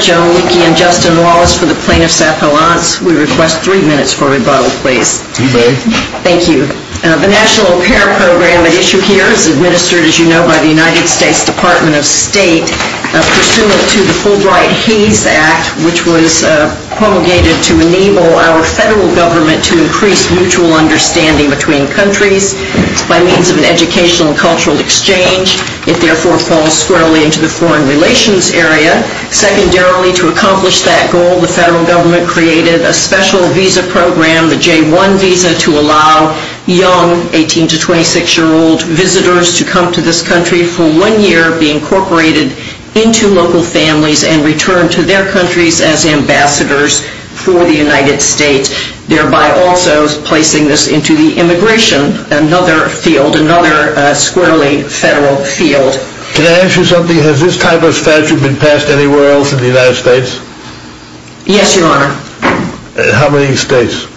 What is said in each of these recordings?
Joan Leakey and Justin Wallace for the Plaintiffs' Appellants. The National Repair Program at issue here is administered by the United States Department of State pursuant to the Fulbright-Hayes Act, which was promulgated to enable our federal government to increase mutual understanding between countries by means of an educational and cultural exchange. It therefore falls squarely into the foreign relations area. Secondarily, to accomplish that goal, the federal government created a special visa program, the J-1 visa, to allow young 18 to 26-year-old visitors to come to this country for one year, be incorporated into local families, and return to their countries as ambassadors for the United States, thereby also placing this into the immigration field, another squarely federal field. Can I ask you something? Has this type of statute been passed anywhere else in the United States? Yes, Your Honor. How many states?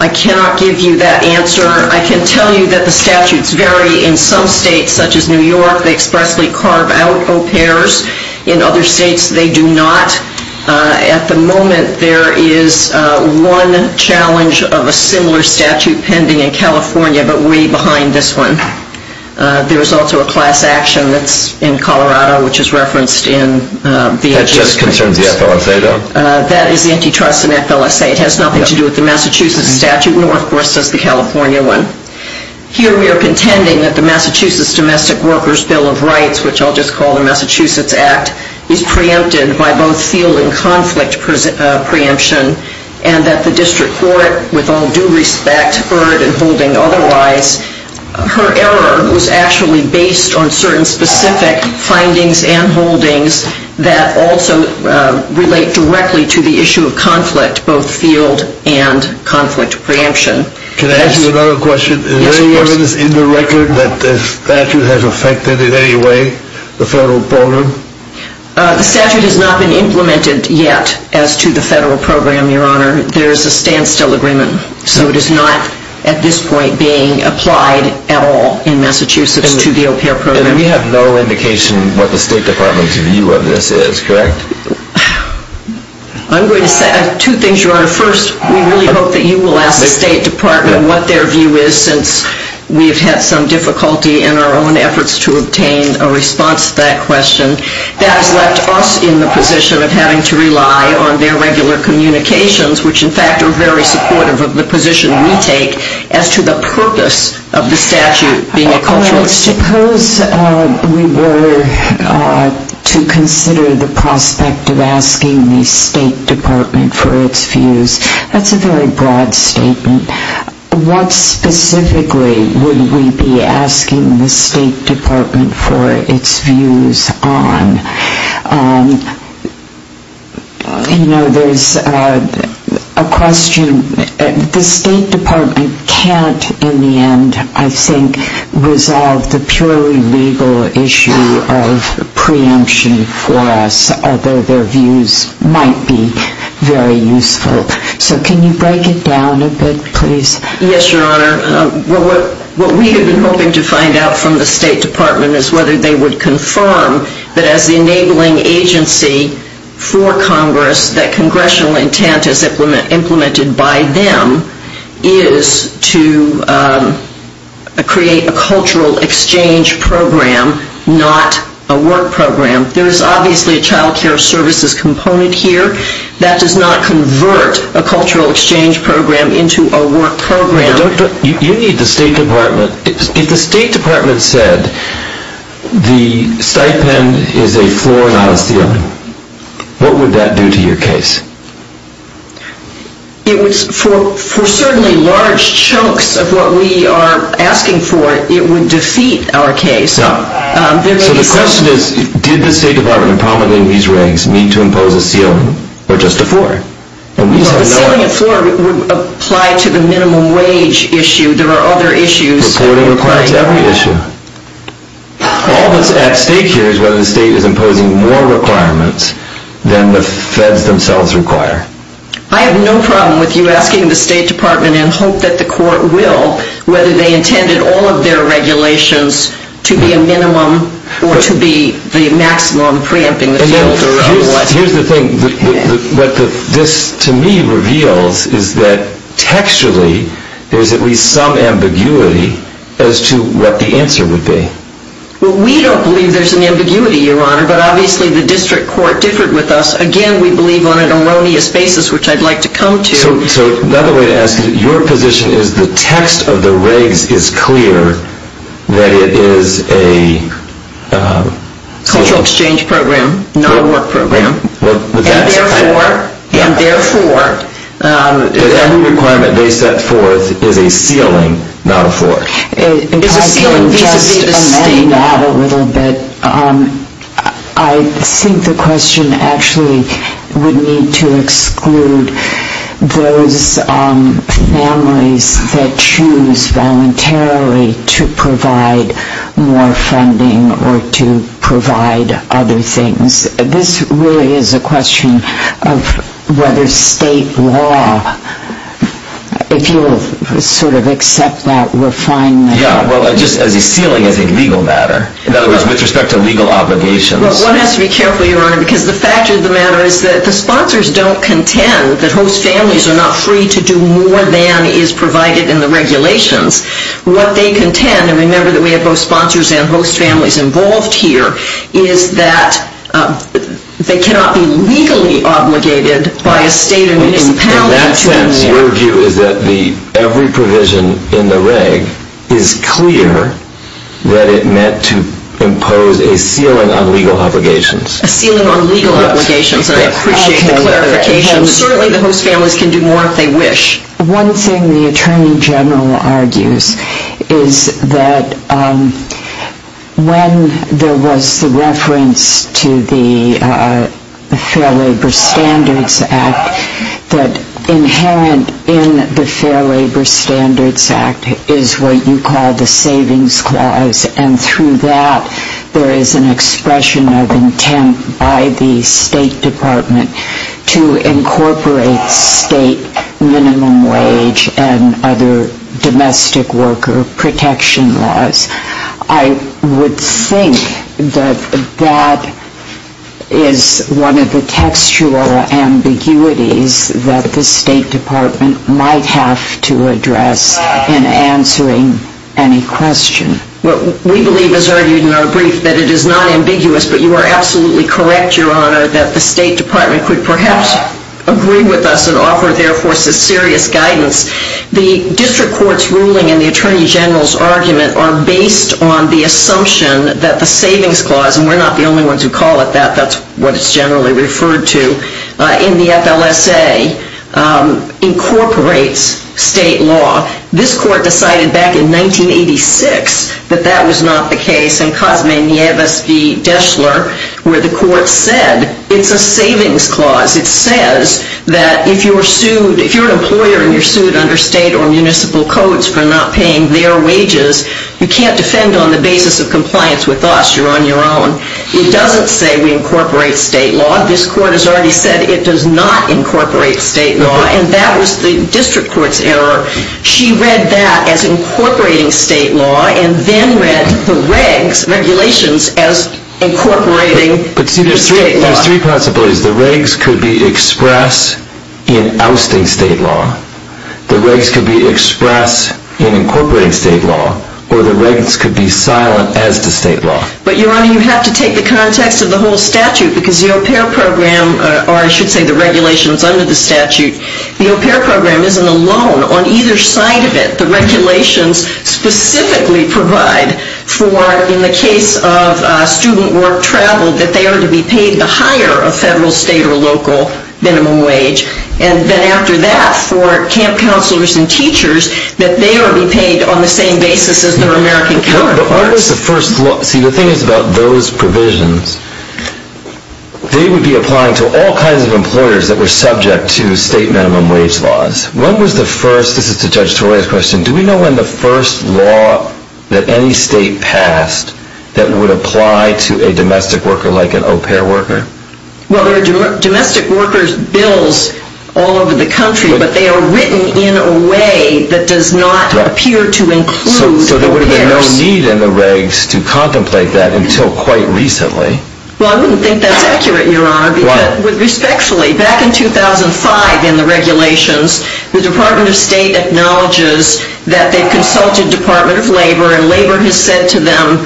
I cannot give you that answer. I can tell you that the statutes vary. In some states such as New York, they expressly carve out au pairs. In other states, they do not. At the moment, there is one challenge of a similar statute pending in California, but way behind this one. There is also a class action that's in Colorado, which is referenced in the address briefs. That just concerns the FLSA, though? That is the antitrust in FLSA. It has nothing to do with the Massachusetts statute, nor, of course, does the California one. Here we are contending that the Massachusetts Domestic Workers Bill of Rights, which I'll just call the Massachusetts Act, is preempted by both field and conflict preemption, and that the district court, with all due respect, heard and holding otherwise. Her error was actually based on certain specific findings and holdings that also relate directly to the issue of conflict, both field and conflict preemption. Can I ask you another question? Yes, of course. Is there any evidence in the record that the statute has affected in any way the federal program? The statute has not been implemented yet as to the federal program, Your Honor. There is a standstill agreement, so it is not at this point being applied at all in Massachusetts to the au pair program. And we have no indication what the State Department's view of this is, correct? I'm going to say two things, Your Honor. First, we really hope that you will ask the State Department what their view is, since we have had some difficulty in our own efforts to obtain a response to that question. That has left us in the position of having to rely on their regular communications, which in fact are very supportive of the position we take as to the purpose of the statute being a cultural issue. But suppose we were to consider the prospect of asking the State Department for its views. That's a very broad statement. What specifically would we be asking the State Department for its views on? You know, there's a question. The State Department can't, in the end, I think, resolve the purely legal issue of preemption for us, although their views might be very useful. So can you break it down a bit, please? Yes, Your Honor. What we have been hoping to find out from the State Department is whether they would confirm that as the enabling agency for Congress, that congressional intent is implemented by them, is to create a cultural exchange program, not a work program. There is obviously a child care services component here. That does not convert a cultural exchange program into a work program. You need the State Department. If the State Department said the stipend is a floor, not a ceiling, what would that do to your case? For certainly large chunks of what we are asking for, it would defeat our case. So the question is, did the State Department promulgating these regs need to impose a ceiling or just a floor? The ceiling and floor would apply to the minimum wage issue. There are other issues. Reporting applies to every issue. All that is at stake here is whether the State is imposing more requirements than the feds themselves require. I have no problem with you asking the State Department and hope that the court will, whether they intended all of their regulations to be a minimum or to be the maximum preempting the field. Here is the thing. What this to me reveals is that textually there is at least some ambiguity as to what the answer would be. We do not believe there is an ambiguity, Your Honor, but obviously the district court differed with us. Again, we believe on an erroneous basis, which I would like to come to. So another way to ask is that your position is the text of the regs is clear that it is a cultural exchange program, not a work program, and therefore every requirement they set forth is a ceiling, not a floor. If I can just amend that a little bit. I think the question actually would need to exclude those families that choose voluntarily to provide more funding or to provide other things. This really is a question of whether State law, if you will sort of accept that we are fine with that. Yeah, well, just as a ceiling as a legal matter. In other words, with respect to legal obligations. One has to be careful, Your Honor, because the fact of the matter is that the sponsors don't contend that host families are not free to do more than is provided in the regulations. What they contend, and remember that we have both sponsors and host families involved here, is that they cannot be legally obligated by a State or municipality to do more. In that sense, your view is that every provision in the reg is clear that it meant to impose a ceiling on legal obligations. A ceiling on legal obligations, and I appreciate the clarification. Certainly the host families can do more if they wish. One thing the Attorney General argues is that when there was the reference to the Fair Labor Standards Act, that inherent in the Fair Labor Standards Act is what you call the Savings Clause, and through that there is an expression of intent by the State Department to incorporate state minimum wage and other domestic worker protection laws. I would think that that is one of the textual ambiguities that the State Department might have to address in answering any question. We believe, as argued in our brief, that it is not ambiguous, but you are absolutely correct, Your Honor, that the State Department could perhaps agree with us and offer their forces serious guidance. The District Court's ruling and the Attorney General's argument are based on the assumption that the Savings Clause, and we are not the only ones who call it that, that is what it is generally referred to in the FLSA, incorporates state law. This Court decided back in 1986 that that was not the case. In 1986, in Cosme Nieves v. Deschler, where the Court said it is a Savings Clause, it says that if you are an employer and you are sued under state or municipal codes for not paying their wages, you can't defend on the basis of compliance with us, you are on your own. It doesn't say we incorporate state law. This Court has already said it does not incorporate state law, and that was the District Court's error. She read that as incorporating state law, and then read the regs, regulations, as incorporating state law. But see, there are three possibilities. The regs could be expressed in ousting state law, the regs could be expressed in incorporating state law, or the regs could be silent as to state law. But, Your Honor, you have to take the context of the whole statute, because the au pair program, or I should say the regulations under the statute, the au pair program isn't alone on either side of it. The regulations specifically provide for, in the case of student work travel, that they are to be paid the higher of federal, state, or local minimum wage. And then after that, for camp counselors and teachers, that they are to be paid on the same basis as their American counterpart. But what is the first law? See, the thing is about those provisions, they would be applying to all kinds of employers that were subject to state minimum wage laws. When was the first, this is to Judge Toroya's question, do we know when the first law that any state passed that would apply to a domestic worker like an au pair worker? Well, there are domestic workers' bills all over the country, but they are written in a way that does not appear to include au pairs. So there would have been no need in the regs to contemplate that until quite recently. Well, I wouldn't think that's accurate, Your Honor. Why? Respectfully, back in 2005 in the regulations, the Department of State acknowledges that they've consulted Department of Labor, and Labor has said to them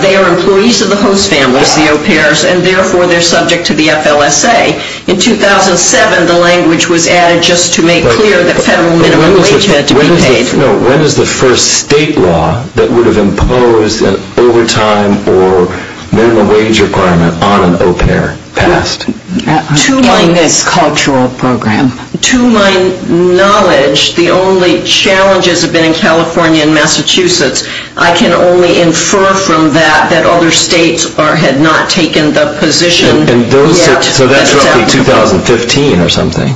they are employees of the host families, the au pairs, and therefore they're subject to the FLSA. In 2007, the language was added just to make clear that federal minimum wage had to be paid. When is the first state law that would have imposed an overtime or minimum wage requirement on an au pair passed? In this cultural program. To my knowledge, the only challenges have been in California and Massachusetts. I can only infer from that that other states had not taken the position yet. So that's roughly 2015 or something.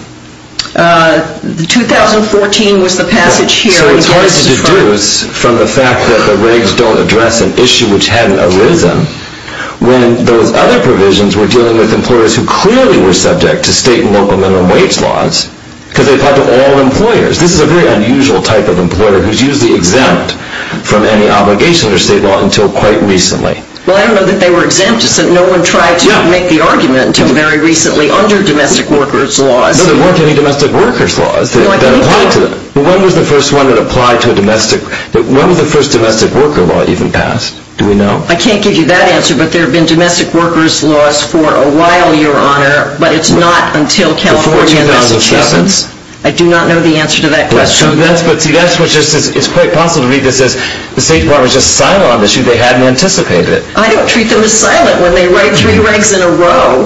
2014 was the passage here. So it's hard to deduce from the fact that the regs don't address an issue which hadn't arisen when those other provisions were dealing with employers who clearly were subject to state and local minimum wage laws because they applied to all employers. This is a very unusual type of employer who's usually exempt from any obligation under state law until quite recently. Well, I don't know that they were exempt. No one tried to make the argument until very recently under domestic workers' laws. No, there weren't any domestic workers' laws that applied to them. When was the first one that applied to a domestic... When was the first domestic worker law even passed? Do we know? I can't give you that answer, but there have been domestic workers' laws for a while, Your Honor, but it's not until California and Massachusetts. Before 2007? I do not know the answer to that question. But see, that's what's just... It's quite possible to read this as the State Department's just silent on the issue. They hadn't anticipated it. I don't treat them as silent when they write three regs in a row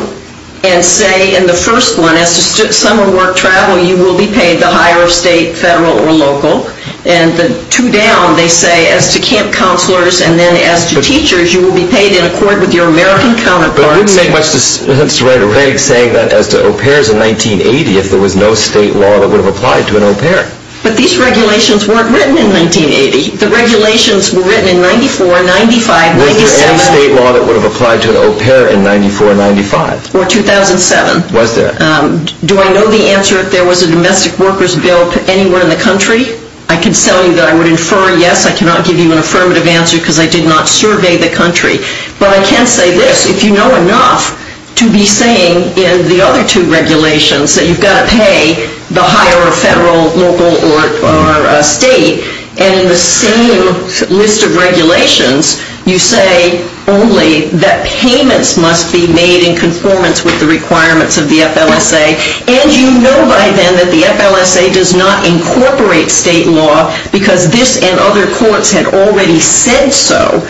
and say in the first one as to summer work travel, you will be paid the higher of state, federal, or local. And the two down, they say as to camp counselors and then as to teachers, you will be paid in accord with your American counterparts. But it doesn't make much sense to write a reg saying that as to au pairs in 1980 if there was no state law that would have applied to an au pair. But these regulations weren't written in 1980. The regulations were written in 94, 95, 97... Was there any state law that would have applied to an au pair in 94, 95? Or 2007? Was there? Do I know the answer if there was a domestic workers' bill anywhere in the country? I can tell you that I would infer yes. I cannot give you an affirmative answer because I did not survey the country. But I can say this. If you know enough to be saying in the other two regulations that you've got to pay the higher of federal, local, or state and in the same list of regulations, you say only that payments must be made in conformance with the requirements of the FLSA and you know by then that the FLSA does not incorporate state law because this and other courts had already said so,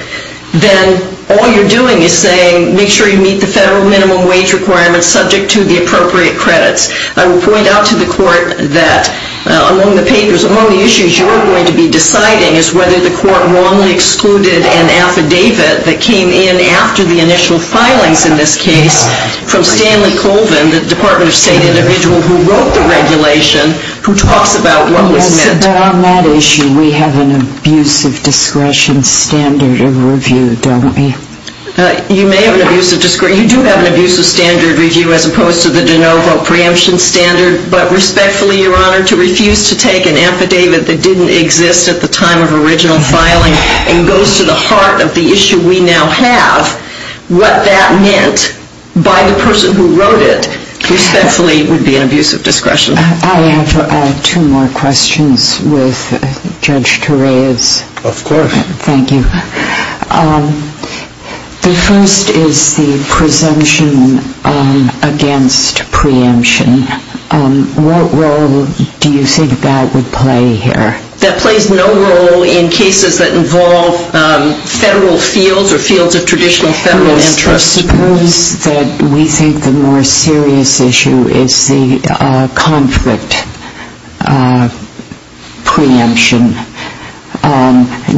then all you're doing is saying make sure you meet the federal minimum wage requirements subject to the appropriate credits. I will point out to the court that among the papers, among the issues you are going to be deciding is whether the court wrongly excluded an affidavit that came in after the initial filings in this case from Stanley Colvin, the Department of State individual who wrote the regulation, who talks about what was said. But on that issue, we have an abuse of discretion standard of review, don't we? You may have an abuse of discretion. You do have an abuse of standard review as opposed to the de novo preemption standard. But respectfully, Your Honor, to refuse to take an affidavit that didn't exist at the time of original filing and goes to the heart of the issue we now have, what that meant by the person who wrote it respectfully would be an abuse of discretion. I have two more questions with Judge Tourez. Of course. Thank you. The first is the presumption against preemption. What role do you think that would play here? That plays no role in cases that involve federal fields or fields of traditional federal interest. Suppose that we think the more serious issue is the conflict preemption.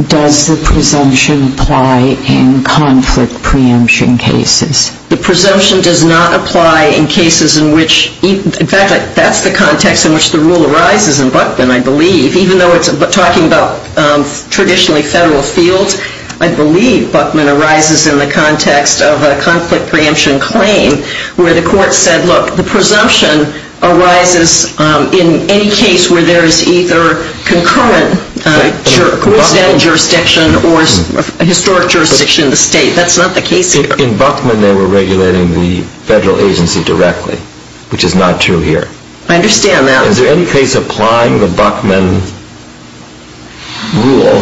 Does the presumption apply in conflict preemption cases? The presumption does not apply in cases in which in fact, that's the context in which the rule arises in Buckman, I believe. Even though it's talking about traditionally federal fields, I believe Buckman arises in the context of a conflict preemption claim where the court said, look, the presumption arises in any case where there is either concurrent jurisdictional jurisdiction or historic jurisdiction in the state. That's not the case here. In Buckman, they were regulating the federal agency directly, which is not true here. I understand that. Is there any case applying the Buckman rule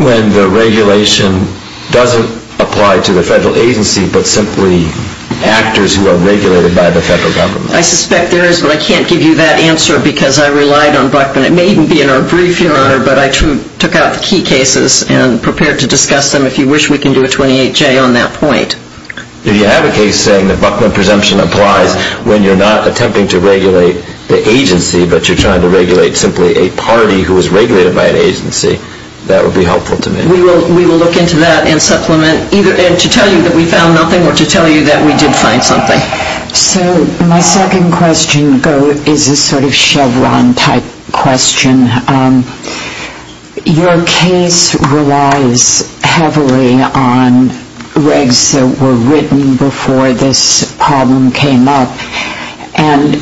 when the regulation doesn't apply to the federal agency but simply actors who are regulated by the federal government? I suspect there is, but I can't give you that answer because I relied on Buckman. It may even be in our brief, Your Honor, but I took out the key cases and prepared to discuss them if you wish we can do a 28-J on that point. Do you have a case saying that Buckman presumption applies when you're not attempting to regulate the agency but you're trying to regulate simply a party who is regulated by an agency? That would be helpful to me. We will look into that and supplement. And to tell you that we found nothing or to tell you that we did find something. So my second question is a sort of Chevron-type question. Your case relies heavily on regs that were written before this problem came up and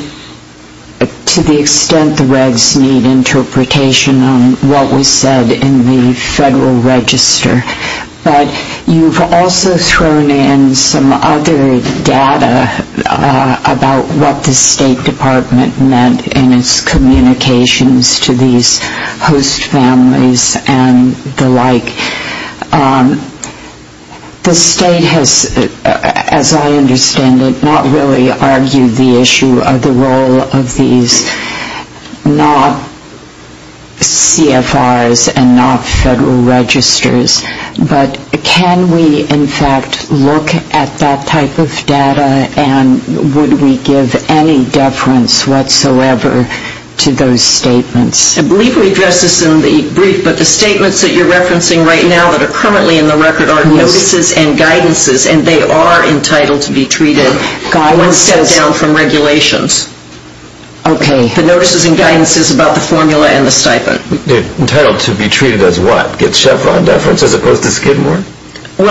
to the extent the regs need interpretation on what was said in the federal register. But you've also thrown in some other data about what the State Department meant in its communications to these host families and the like. The State has, as I understand it, not really argued the issue of the role of these not CFRs and not federal registers. But can we in fact look at that type of data and would we give any deference whatsoever to those statements? I believe we addressed this in the brief but the statements that you're referencing right now that are currently in the record are notices and guidances and they are entitled to be treated once set down from regulations. The notices and guidances about the formula and the stipend. Entitled to be treated as what? As Chevron deference as opposed to Skidmore? Well,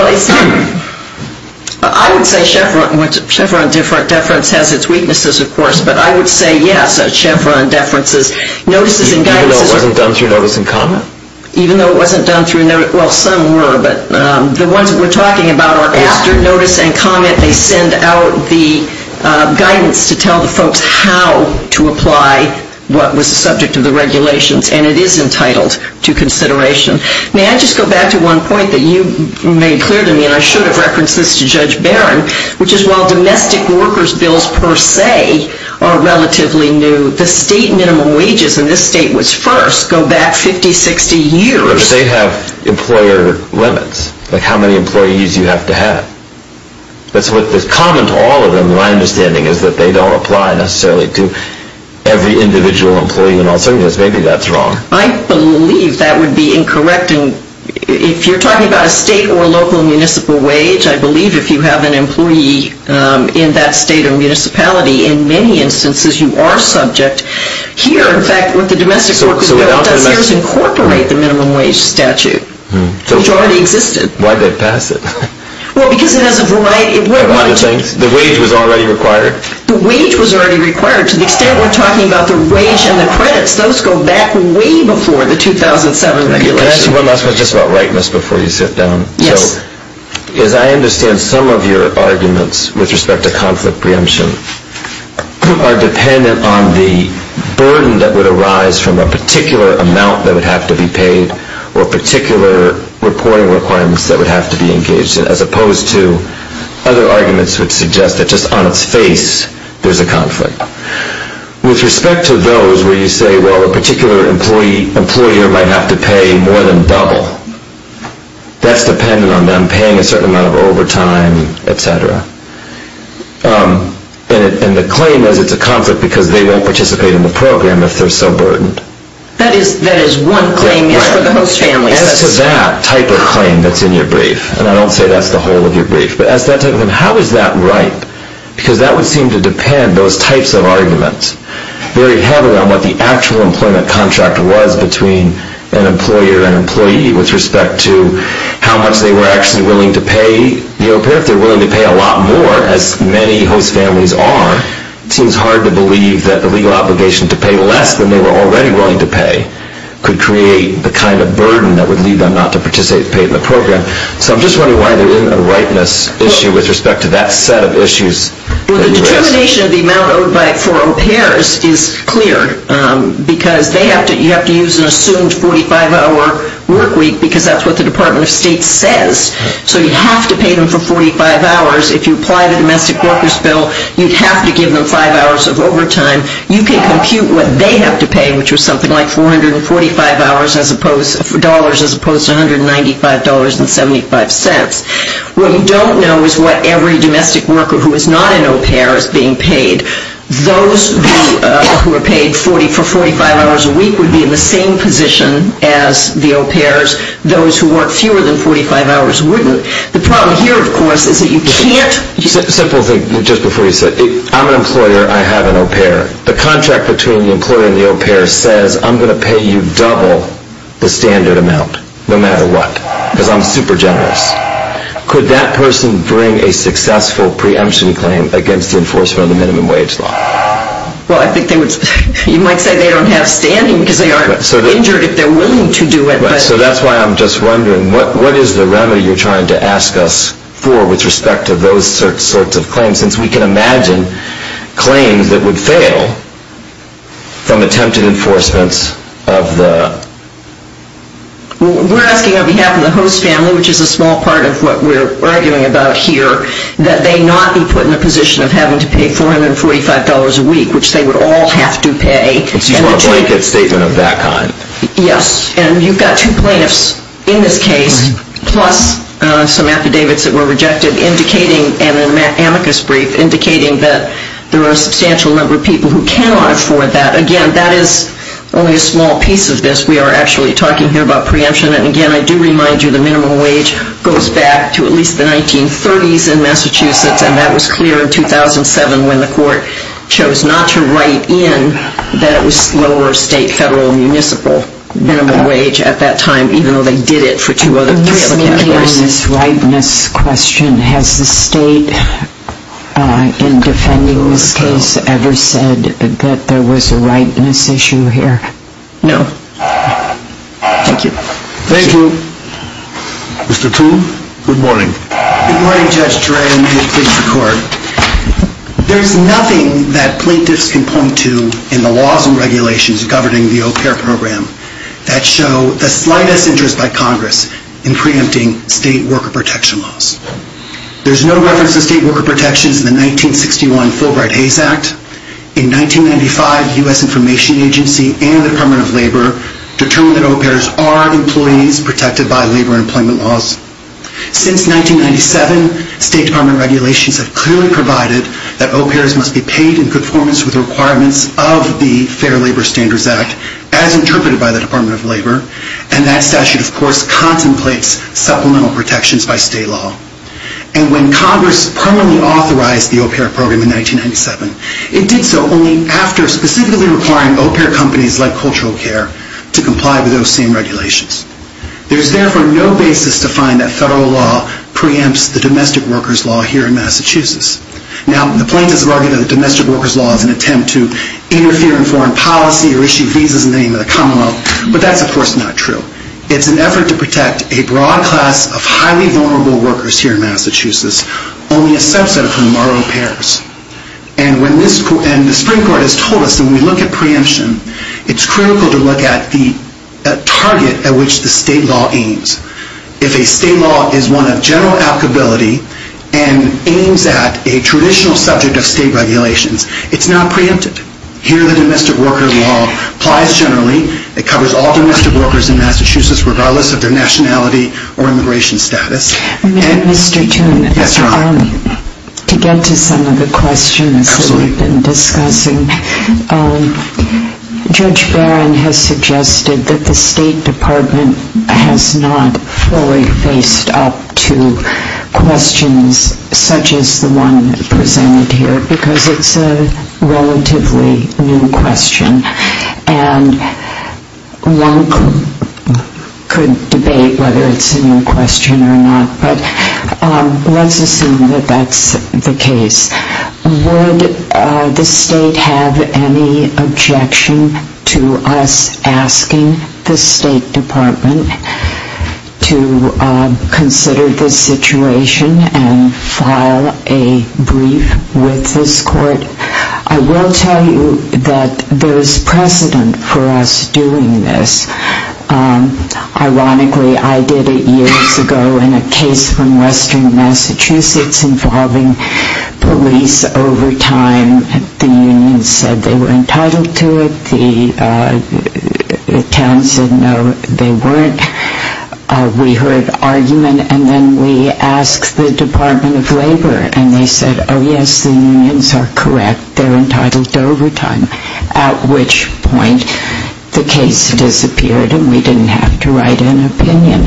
I would say Chevron deference has its weaknesses, of course, but I would say yes, as Chevron deference. Even though it wasn't done through notice and comment? Even though it wasn't done through notice and comment. Well, some were, but the ones we're talking about are after notice and comment they send out the guidance to tell the folks how to apply what was the subject of the regulations and it is entitled to consideration. May I just go back to one point that you made clear to me and I should have referenced this to Judge Barron which is while domestic workers bills per se are relatively new the state minimum wages in this state was first go back 50, 60 years. But they have employer limits like how many employees you have to have. That's what is common to all of them and my understanding is that they don't apply necessarily to every individual employee and maybe that's wrong. I believe that would be incorrect and if you're talking about a state or local municipal wage I believe if you have an employee in that state or municipality in many instances you are subject here in fact what the domestic workers bill does is incorporate the minimum wage statute which already existed. Why did they pass it? Because it has a variety The wage was already required? The wage was already required to the extent we're talking about the wage and the credits those go back way before the 2007 regulations. Can I ask you one last question Just about rightness before you sit down As I understand some of your arguments with respect to conflict preemption are dependent on the burden that would arise from a particular amount that would have to be paid or particular reporting requirements that would have to be engaged in as opposed to other arguments that would suggest that just on its face there's a conflict With respect to those where you say well a particular employer might have to pay more than double That's dependent on them paying a certain amount of overtime etc. And the claim is it's a conflict because they won't participate in the program if they're so burdened That is one claim As to that type of claim that's in your brief and I don't say that's the whole of your brief How is that right? Because that would seem to depend on those types of arguments Very heavily on what the actual employment contract was between an employer and employee with respect to how much they were actually willing to pay If they're willing to pay a lot more as many host families are It seems hard to believe that the legal obligation to pay less than they were already willing to pay could create the kind of burden that would lead them not to participate in the program So I'm just wondering why there isn't a rightness issue with respect to that set of issues Well the determination of the amount owed for repairs is clear because you have to use an assumed 45 hour work week because that's what the Department of State says So you have to pay them for 45 hours If you apply the Domestic Workers Bill you'd have to give them 5 hours of overtime You can compute what they have to pay which is something like $445 as opposed to $195.75 What we don't know is what every domestic worker who is not an au pair is being paid Those who are paid for 45 hours a week would be in the same position as the au pairs Those who work fewer than 45 hours wouldn't The problem here of course is that you can't I'm an employer, I have an au pair The contract between the employer and the au pair says I'm going to pay you double the standard amount no matter what because I'm super generous Could that person bring a successful preemption claim against the enforcement of the minimum wage law? You might say they don't have standing because they aren't injured if they're willing to do it So that's why I'm just wondering what is the remedy you're trying to ask us for with respect to those sorts of claims since we can imagine claims that would fail from attempted enforcements of the We're asking on behalf of the host family which is a small part of what we're arguing about here that they not be put in a position of having to pay $445 a week which they would all have to pay A blanket statement of that kind Yes And you've got two plaintiffs in this case plus some affidavits that were rejected indicating and an amicus brief indicating that there are a substantial number of people who cannot afford that Again, that is only a small piece of this. We are actually talking here about preemption and again I do remind you the minimum wage goes back to at least the 1930s in Massachusetts and that was clear in 2007 when the court chose not to write in that it was lower state, federal, municipal minimum wage at that time even though they did it for three other categories On this rightness question has the state in defending this case ever said that there was a rightness issue here? No Thank you Mr. Toole, good morning Good morning Judge Duran May it please the court There's nothing that plaintiffs can point to in the laws and regulations governing the OPERA program that show the slightest interest by Congress in preempting state worker protection laws There's no reference to state worker protections in the 1961 Fulbright-Hays Act In 1995 U.S. Information Agency and the Department of Labor determined that OPERAs are employees protected by labor and employment laws Since 1997, State Department regulations have clearly provided that OPERAs must be paid in conformance with requirements of the Fair Labor Standards Act as interpreted by the Department of Labor and that statute of course contemplates supplemental protections by state law And when Congress permanently authorized the OPERA program in 1997, it did so only after specifically requiring OPERA companies like Cultural Care to comply with those same regulations There's therefore no basis to find that federal law preempts the domestic workers law here in Massachusetts Now, the plaintiffs have argued that the domestic workers law is an attempt to interfere in foreign policy or issue visas in the name of the Commonwealth, but that's of course not true It's an effort to protect a broad class of highly vulnerable workers here in Massachusetts, only a subset of whom are OPERAs And the Supreme Court has told us that when we look at preemption it's critical to look at the target at which the state law aims If a state law is one of general applicability and aims at a traditional subject of state regulations, it's not preempted. Here the domestic workers law applies generally It covers all domestic workers in Massachusetts regardless of their nationality or immigration status Mr. Toon To get to some of the questions that we've been discussing Judge Barron has suggested that the State Department has not fully faced up to questions such as the one presented here, because it's a relatively new question and one could debate whether it's a new question or not, but let's assume that that's the case Would the state have any objection to us asking the State Department to consider this situation and file a brief with this court I will tell you that there's precedent for us doing this Ironically, I did it years ago in a case from Western Massachusetts involving police overtime The union said they were entitled to it The town said no, they weren't We heard argument and then we asked the Department of Labor and they said oh yes, the unions are correct They're entitled to overtime at which point the case disappeared and we didn't have to write an opinion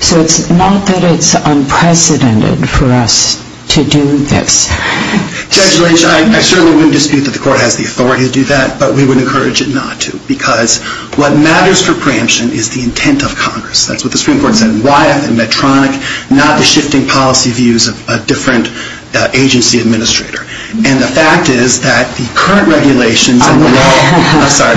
So it's not that it's unprecedented for us to do this Judge Lynch, I certainly wouldn't dispute that the court has the authority to do that, but we would encourage it not to because what matters for preemption is the intent of Congress That's what the Supreme Court said in Wyeth and Medtronic not the shifting policy views of a different agency administrator and the fact is that the current regulations I'm sorry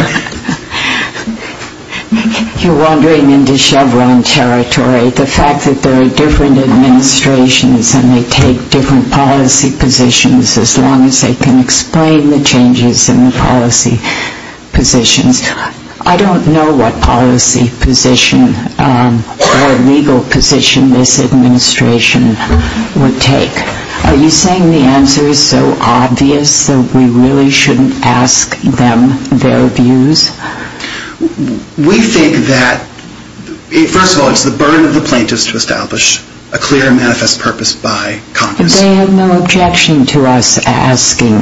You're wandering into Chevron territory the fact that there are different administrations and they take different policy positions as long as they can explain the changes in the policy positions I don't know what policy position or legal position this administration would take Are you saying the answer is so obvious that we really shouldn't ask them their views We think that first of all, it's the burden of the plaintiffs to establish a clear and manifest purpose by Congress They have no objection to us asking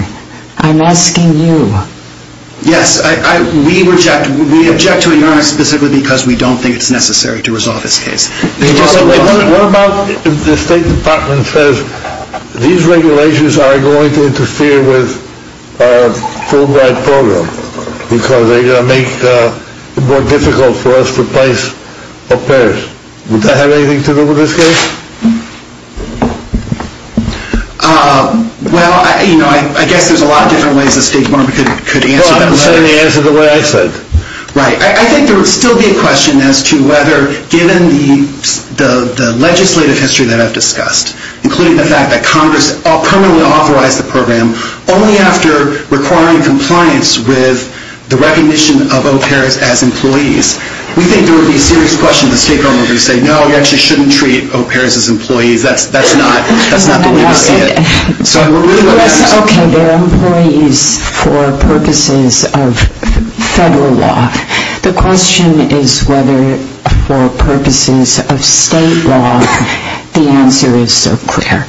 I'm asking you Yes, we reject we object to it, Your Honor, specifically because we don't think it's necessary to resolve this case What about if the State Department says these regulations are going to interfere with our full-blown program because they're going to make it more difficult for us to place repairs. Would that have anything to do with this case? Well, you know, I guess there's a lot of different ways the State Department could answer Well, I'm letting you answer the way I said Right, I think there would still be a question as to whether given the legislative history that I've discussed including the fact that Congress permanently authorized the program only after requiring compliance with the recognition of au pairs as employees We think there would be a serious question if the State Department would say no, you actually shouldn't treat au pairs as employees That's not the way we see it Okay, they're employees for purposes of federal law The question is whether for purposes of state law the answer is so clear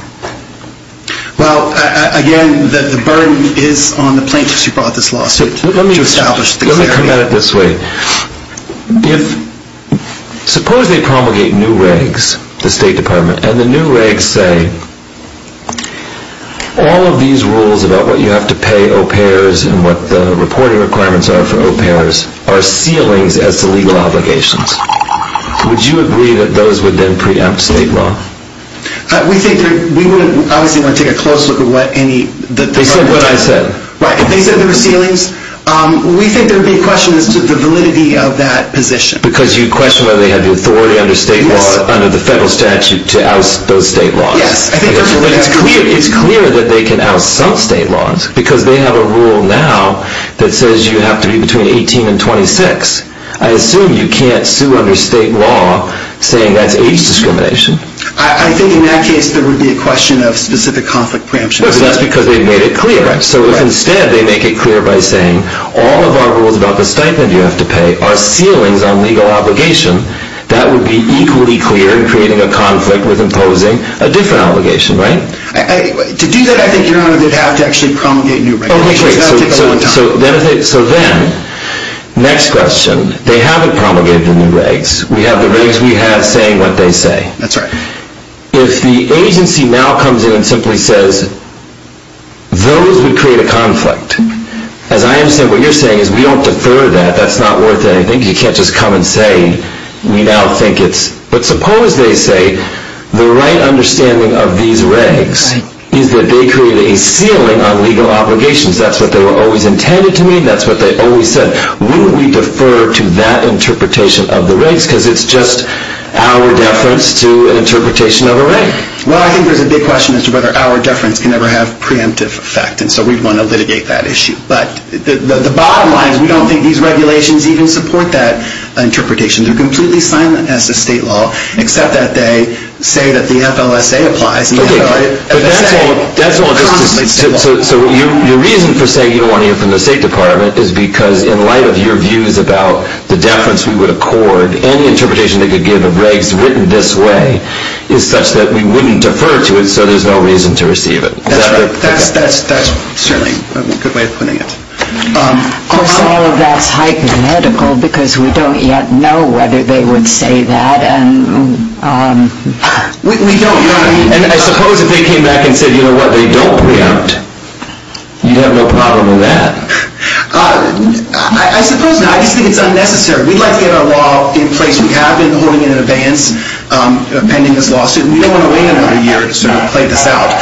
Well, again the burden is on the plaintiffs who brought this lawsuit Let me come at it this way If suppose they promulgate new regs the State Department and the new regs say all of these rules about what you have to pay au pairs and what the reporting requirements are for au pairs are ceilings as to legal obligations Would you agree that those would then preempt state law? We wouldn't obviously want to take a close look at what any They said what I said We think there would be a question as to the validity of that position Because you question whether they have the authority under the federal statute to oust those state laws It's clear that they can oust some state laws Because they have a rule now that says you have to be between 18 and 26 I assume you can't sue under state law saying that's age discrimination I think in that case there would be a question of specific conflict preemption That's because they made it clear So if instead they make it clear by saying all of our rules about the stipend you have to pay are ceilings on legal obligation that would be equally clear in creating a conflict with imposing a different obligation To do that I think you'd have to promulgate new regulations So then next question They haven't promulgated the new regs We have the regs we have saying what they say If the agency now comes in and simply says those would create a conflict As I understand what you're saying is we don't defer that That's not worth anything You can't just come and say But suppose they say the right understanding of these regs is that they create a ceiling on legal obligations That's what they were always intended to mean That's what they always said Wouldn't we defer to that interpretation of the regs because it's just our deference to an interpretation of a reg Well I think there's a big question as to whether our deference can ever have preemptive effect and so we'd want to litigate that issue But the bottom line is we don't think these regulations even support that interpretation They're completely silent as to state law except that they say that the FLSA applies Okay But that's all just to So your reason for saying you don't want to hear from the State Department is because in light of your views about the deference we would accord, any interpretation they could give of regs written this way is such that we wouldn't defer to it so there's no reason to receive it That's certainly a good way of putting it Of course all of that's hypothetical because we don't yet know whether they would say that We don't and I suppose if they came back and said you know what, they don't preempt you'd have no problem with that I suppose not I just think it's unnecessary We'd like to get our law in place we have been holding it in advance pending this lawsuit and we don't want to wait another year to sort of play this out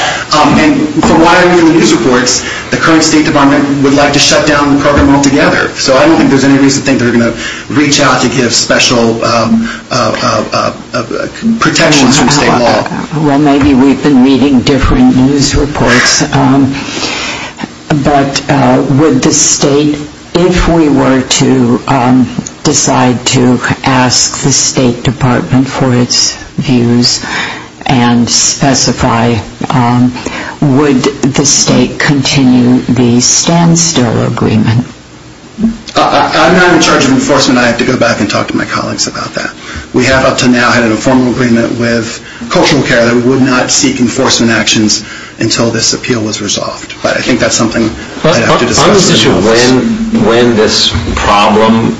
and from what I read in the news reports the current State Department would like to shut down the program altogether so I don't think there's any reason to think they're going to reach out to give special protections from state law Well maybe we've been reading different news reports but would the state if we were to decide to ask the State Department for its views and specify would the state continue the standstill agreement I'm not in charge of enforcement, I have to go back and talk to my colleagues about that. We have up to now had an informal agreement with cultural care that we would not seek enforcement actions until this appeal was resolved but I think that's something I'd have to discuss later When this problem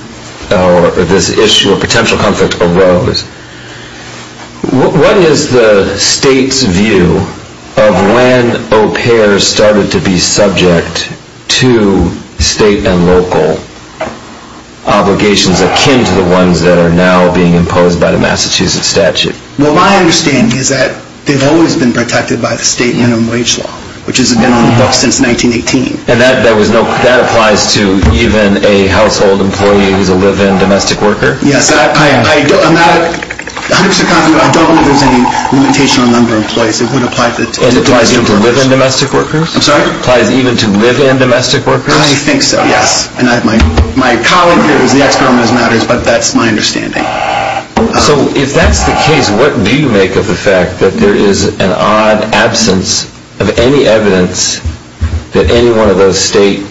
or this issue of potential conflict arose what is the state's view of when cultural care started to be subject to state and local obligations akin to the ones that are now being imposed by the Massachusetts statute Well my understanding is that they've always been protected by the state minimum wage law which has been on the books since 1918 And that applies to even a household employee who's a live-in domestic worker? Yes, I'm not 100% confident I don't believe there's any limitation on number of employees And it applies even to live-in domestic workers? I'm sorry? It applies even to live-in domestic workers? I think so, yes. My colleague here is the ex-government of matters but that's my understanding So if that's the case, what do you make of the fact that there is an odd absence of any evidence that any one of those state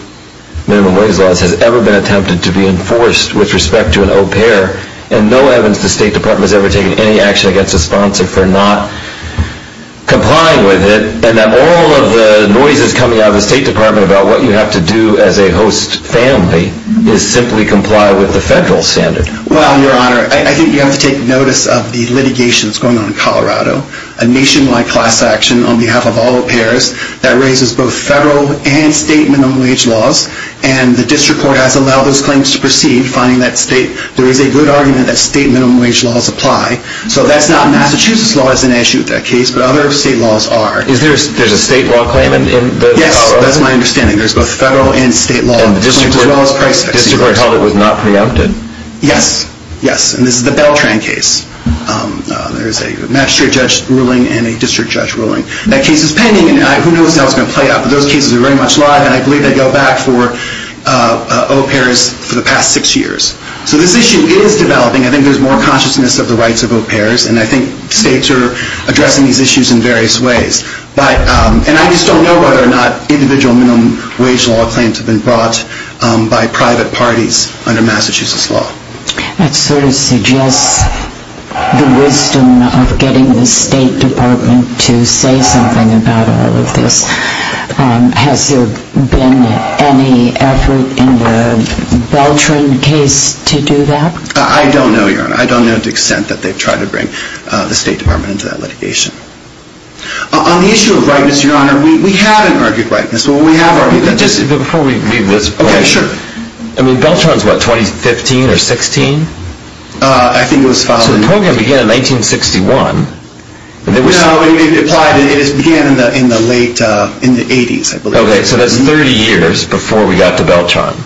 minimum wage laws has ever been attempted to be enforced with respect to an au pair and no evidence the state department has ever taken any action against a sponsor for not complying with it and that all of the noises coming out of the state department about what you have to do as a host family is simply comply with the federal standard Well, your honor I think you have to take notice of the litigation that's going on in Colorado a nationwide class action on behalf of all au pairs that raises both federal and state minimum wage laws and the district court has allowed those claims to proceed, finding that there is a good argument that state minimum wage laws apply So that's not Massachusetts law as an issue with that case, but other state laws are There's a state law claim in Colorado? Yes, that's my understanding There's both federal and state law And the district court held it was not preempted Yes, yes And this is the Beltran case There is a magistrate judge ruling and a district judge ruling That case is pending and who knows how it's going to play out but those cases are very much alive and I believe they go back for au pairs for the past six years So this issue is developing I think there's more consciousness of the rights of au pairs and I think states are addressing these issues in various ways and I just don't know whether or not individual minimum wage law claims have been brought by private parties under Massachusetts law That sort of suggests the wisdom of getting the state department to say something about all of this Has there been any effort in the Beltran case to do that? I don't know, Your Honor I don't know to the extent that they've tried to bring the state department into that litigation On the issue of rightness, Your Honor We haven't argued rightness Well, we have argued that Okay, sure I mean, Beltran is what, 2015 or 16? I think it was followed So the program began in 1961 No, it applied It began in the late In the 80s, I believe Okay, so that's 30 years before we got to Beltran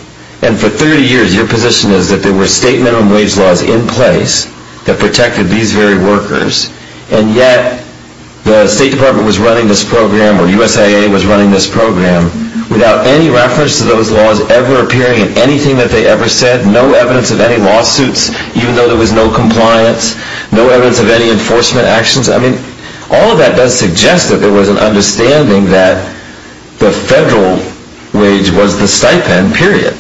And for 30 years, your position is that there were state minimum wage laws in place that protected these very workers and yet the state department was running this program or USAA was running this program without any reference to those laws ever appearing in anything that they ever said no evidence of any lawsuits even though there was no compliance no evidence of any enforcement actions I mean, all of that does suggest that there was an understanding that the federal wage was the stipend, period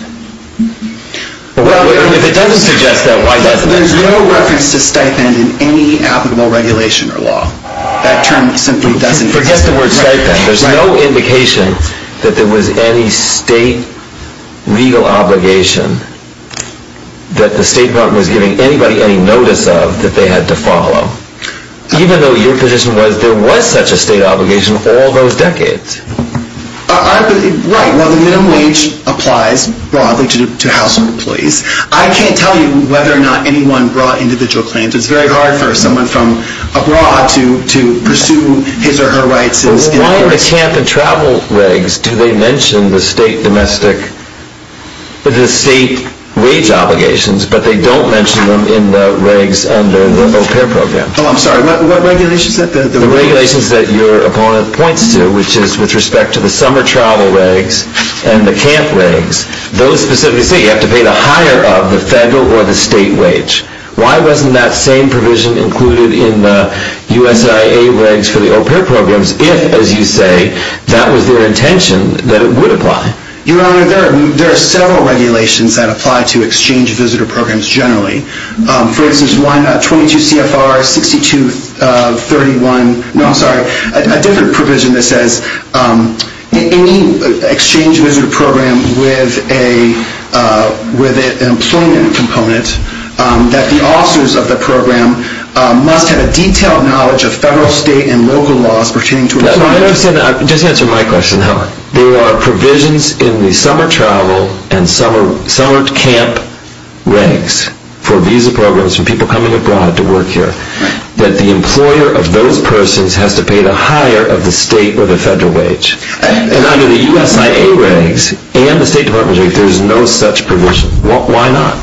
Well, if it doesn't suggest that, why doesn't it? There's no reference to stipend in any applicable regulation or law That term simply doesn't exist Forget the word stipend There's no indication that there was any state legal obligation that the state department was giving anybody any notice of that they had to follow Even though your position was there was such a state obligation all those decades Right, well the minimum wage applies broadly to household employees I can't tell you whether or not anyone brought individual claims It's very hard for someone from abroad to pursue his or her rights Why in the camp and travel regs do they mention the state domestic the state wage obligations but they don't mention them in the regs under the au pair program Oh, I'm sorry, what regulations? The regulations that your opponent points to, which is with respect to the summer travel regs and the camp regs, those specifically say you have to pay the higher of the federal or the state wage Why wasn't that same provision included in the USIA regs for the au pair programs if, as you say that was their intention that it would apply Your Honor, there are several regulations that apply to exchange For instance, 22 CFR 6231 No, I'm sorry, a different provision that says any exchange visitor program with a with an employment component that the officers of the program must have a detailed knowledge of federal, state, and local laws pertaining to employment Just answer my question There are provisions in the summer travel and summer camp regs for visa programs for people coming abroad to work here that the employer of those persons has to pay the higher of the state or the federal wage And under the USIA regs and the state department regs, there is no such provision. Why not?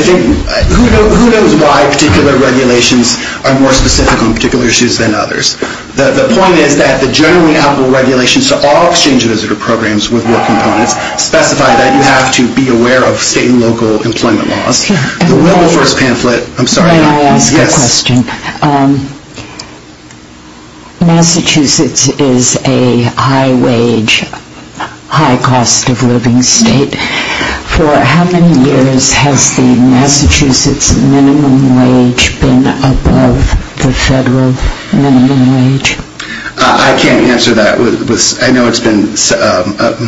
Who knows why particular regulations are more specific on particular issues than others The point is that the generally applicable regulations to all exchange visitor programs with work components specify that You have to be aware of state and local employment laws The Wilberforce pamphlet May I ask a question? Massachusetts is a high wage high cost of living state For how many years has the Massachusetts minimum wage been above the federal minimum wage? I can't answer that I know it's been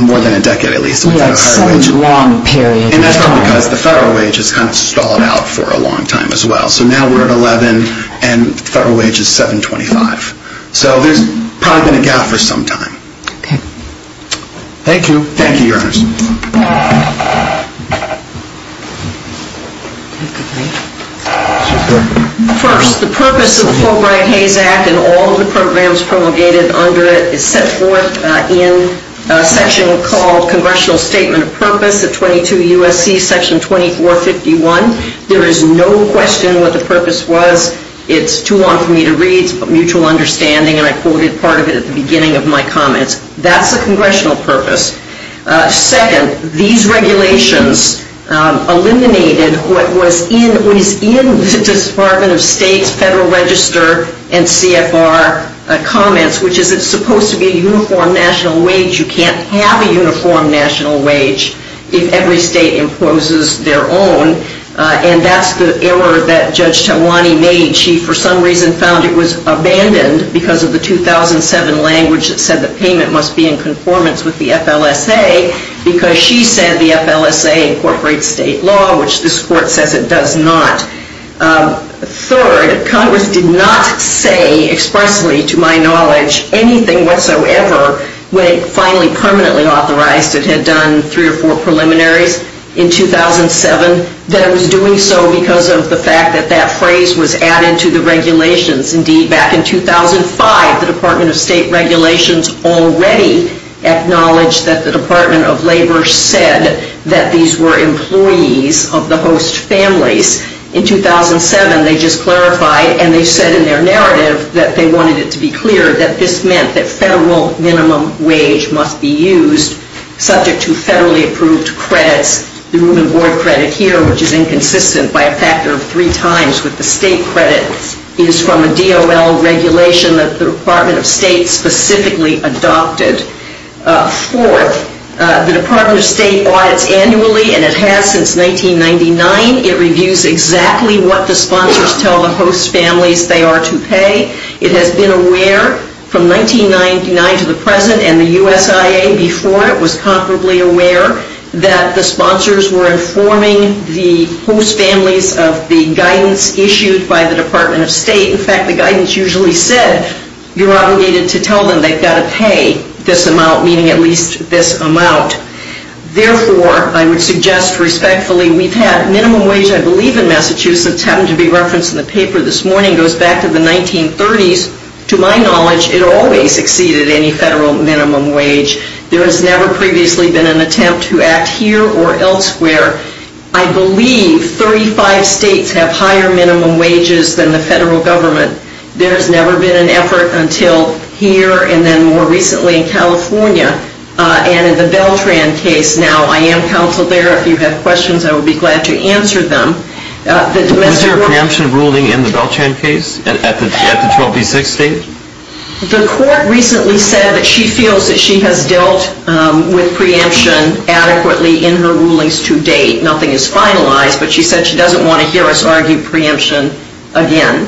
more than a decade It's been a long period That's because the federal wage has stalled out for a long time as well So now we are at 11 and the federal wage is $7.25 So there has probably been a gap for some time Thank you Thank you First, the purpose of the Fulbright-Hays Act and all the programs promulgated under it is set forth in a section called Congressional Statement of Purpose Section 2451 There is no question what the purpose was It's too long for me to read It's a mutual understanding and I quoted part of it at the beginning of my comments That's the congressional purpose Second, these regulations eliminated what was in the Department of State's Federal Register and CFR comments, which is it's supposed to be a uniform national wage You can't have a uniform national wage if every state imposes their own And that's the error that Judge Tamwani made She, for some reason, found it was abandoned because of the 2007 language that said the payment must be in conformance with the FLSA because she said the FLSA incorporates state law which this Court says it does not Third, Congress did not say expressly, to my knowledge anything whatsoever when it finally permanently authorized it had done 3 or 4 preliminaries in 2007 that it was doing so because of the fact that that phrase was added to the regulations. Indeed, back in 2005, the Department of State regulations already acknowledged that the Department of Labor said that these were employees of the host families In 2007, they just that they wanted it to be clear that this meant that federal minimum wage must be used subject to federally approved credits The room and board credit here which is inconsistent by a factor of 3 times with the state credit is from a DOL regulation that the Department of State specifically adopted Fourth, the Department of State audits annually and it has since 1999 it reviews exactly what the sponsors tell the host families they are to pay It has been aware from 1999 to the present and the USIA before it was comparably aware that the sponsors were informing the host families of the guidance issued by the Department of State In fact, the guidance usually said you're obligated to tell them they've got to pay this amount meaning at least this amount Therefore, I would suggest respectfully, we've had minimum wage I believe in Massachusetts It happened to be referenced in the paper this morning It goes back to the 1930s To my knowledge, it always exceeded any federal minimum wage There has never previously been an attempt to act here or elsewhere I believe 35 states have higher minimum wages than the federal government There has never been an effort until here and then more recently in California and in the Beltran case Now, I am counseled there If you have questions, I would be glad to answer them Is there a preemption ruling in the Beltran case at the 12B6 state? The court recently said that she feels that she has dealt with preemption adequately in her rulings to date Nothing is finalized, but she said she doesn't want to hear us argue preemption again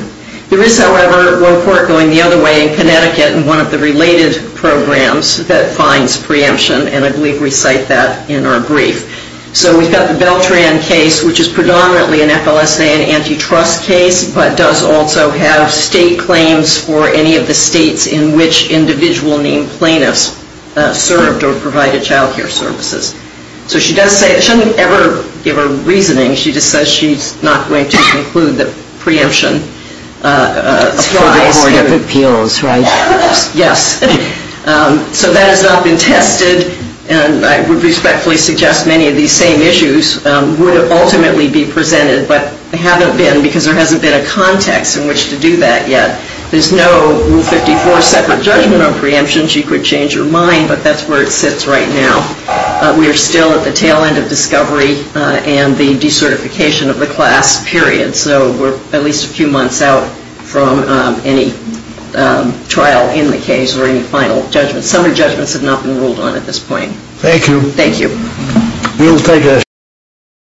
There is, however, one court going the other way in Connecticut in one of the related programs that finds preemption and I believe we cite that in our brief So we've got the Beltran case which is predominantly an FLSA and antitrust case but does also have state claims for any of the states in which individual named plaintiffs served or provided child care services So she does say I shouldn't ever give her reasoning She just says she's not going to conclude that preemption applies For the Board of Appeals, right? Yes So that has not been tested and I would respectfully suggest many of these same issues would ultimately be presented but haven't been because there hasn't been a context in which to do that yet There's no Rule 54 separate judgment on preemption She could change her mind, but that's where it sits right now We are still at the tail end of discovery and the decertification of the class, period So we're at least a few months out from any trial in the case or any final judgment Some of the judgments have not been ruled on at this point Thank you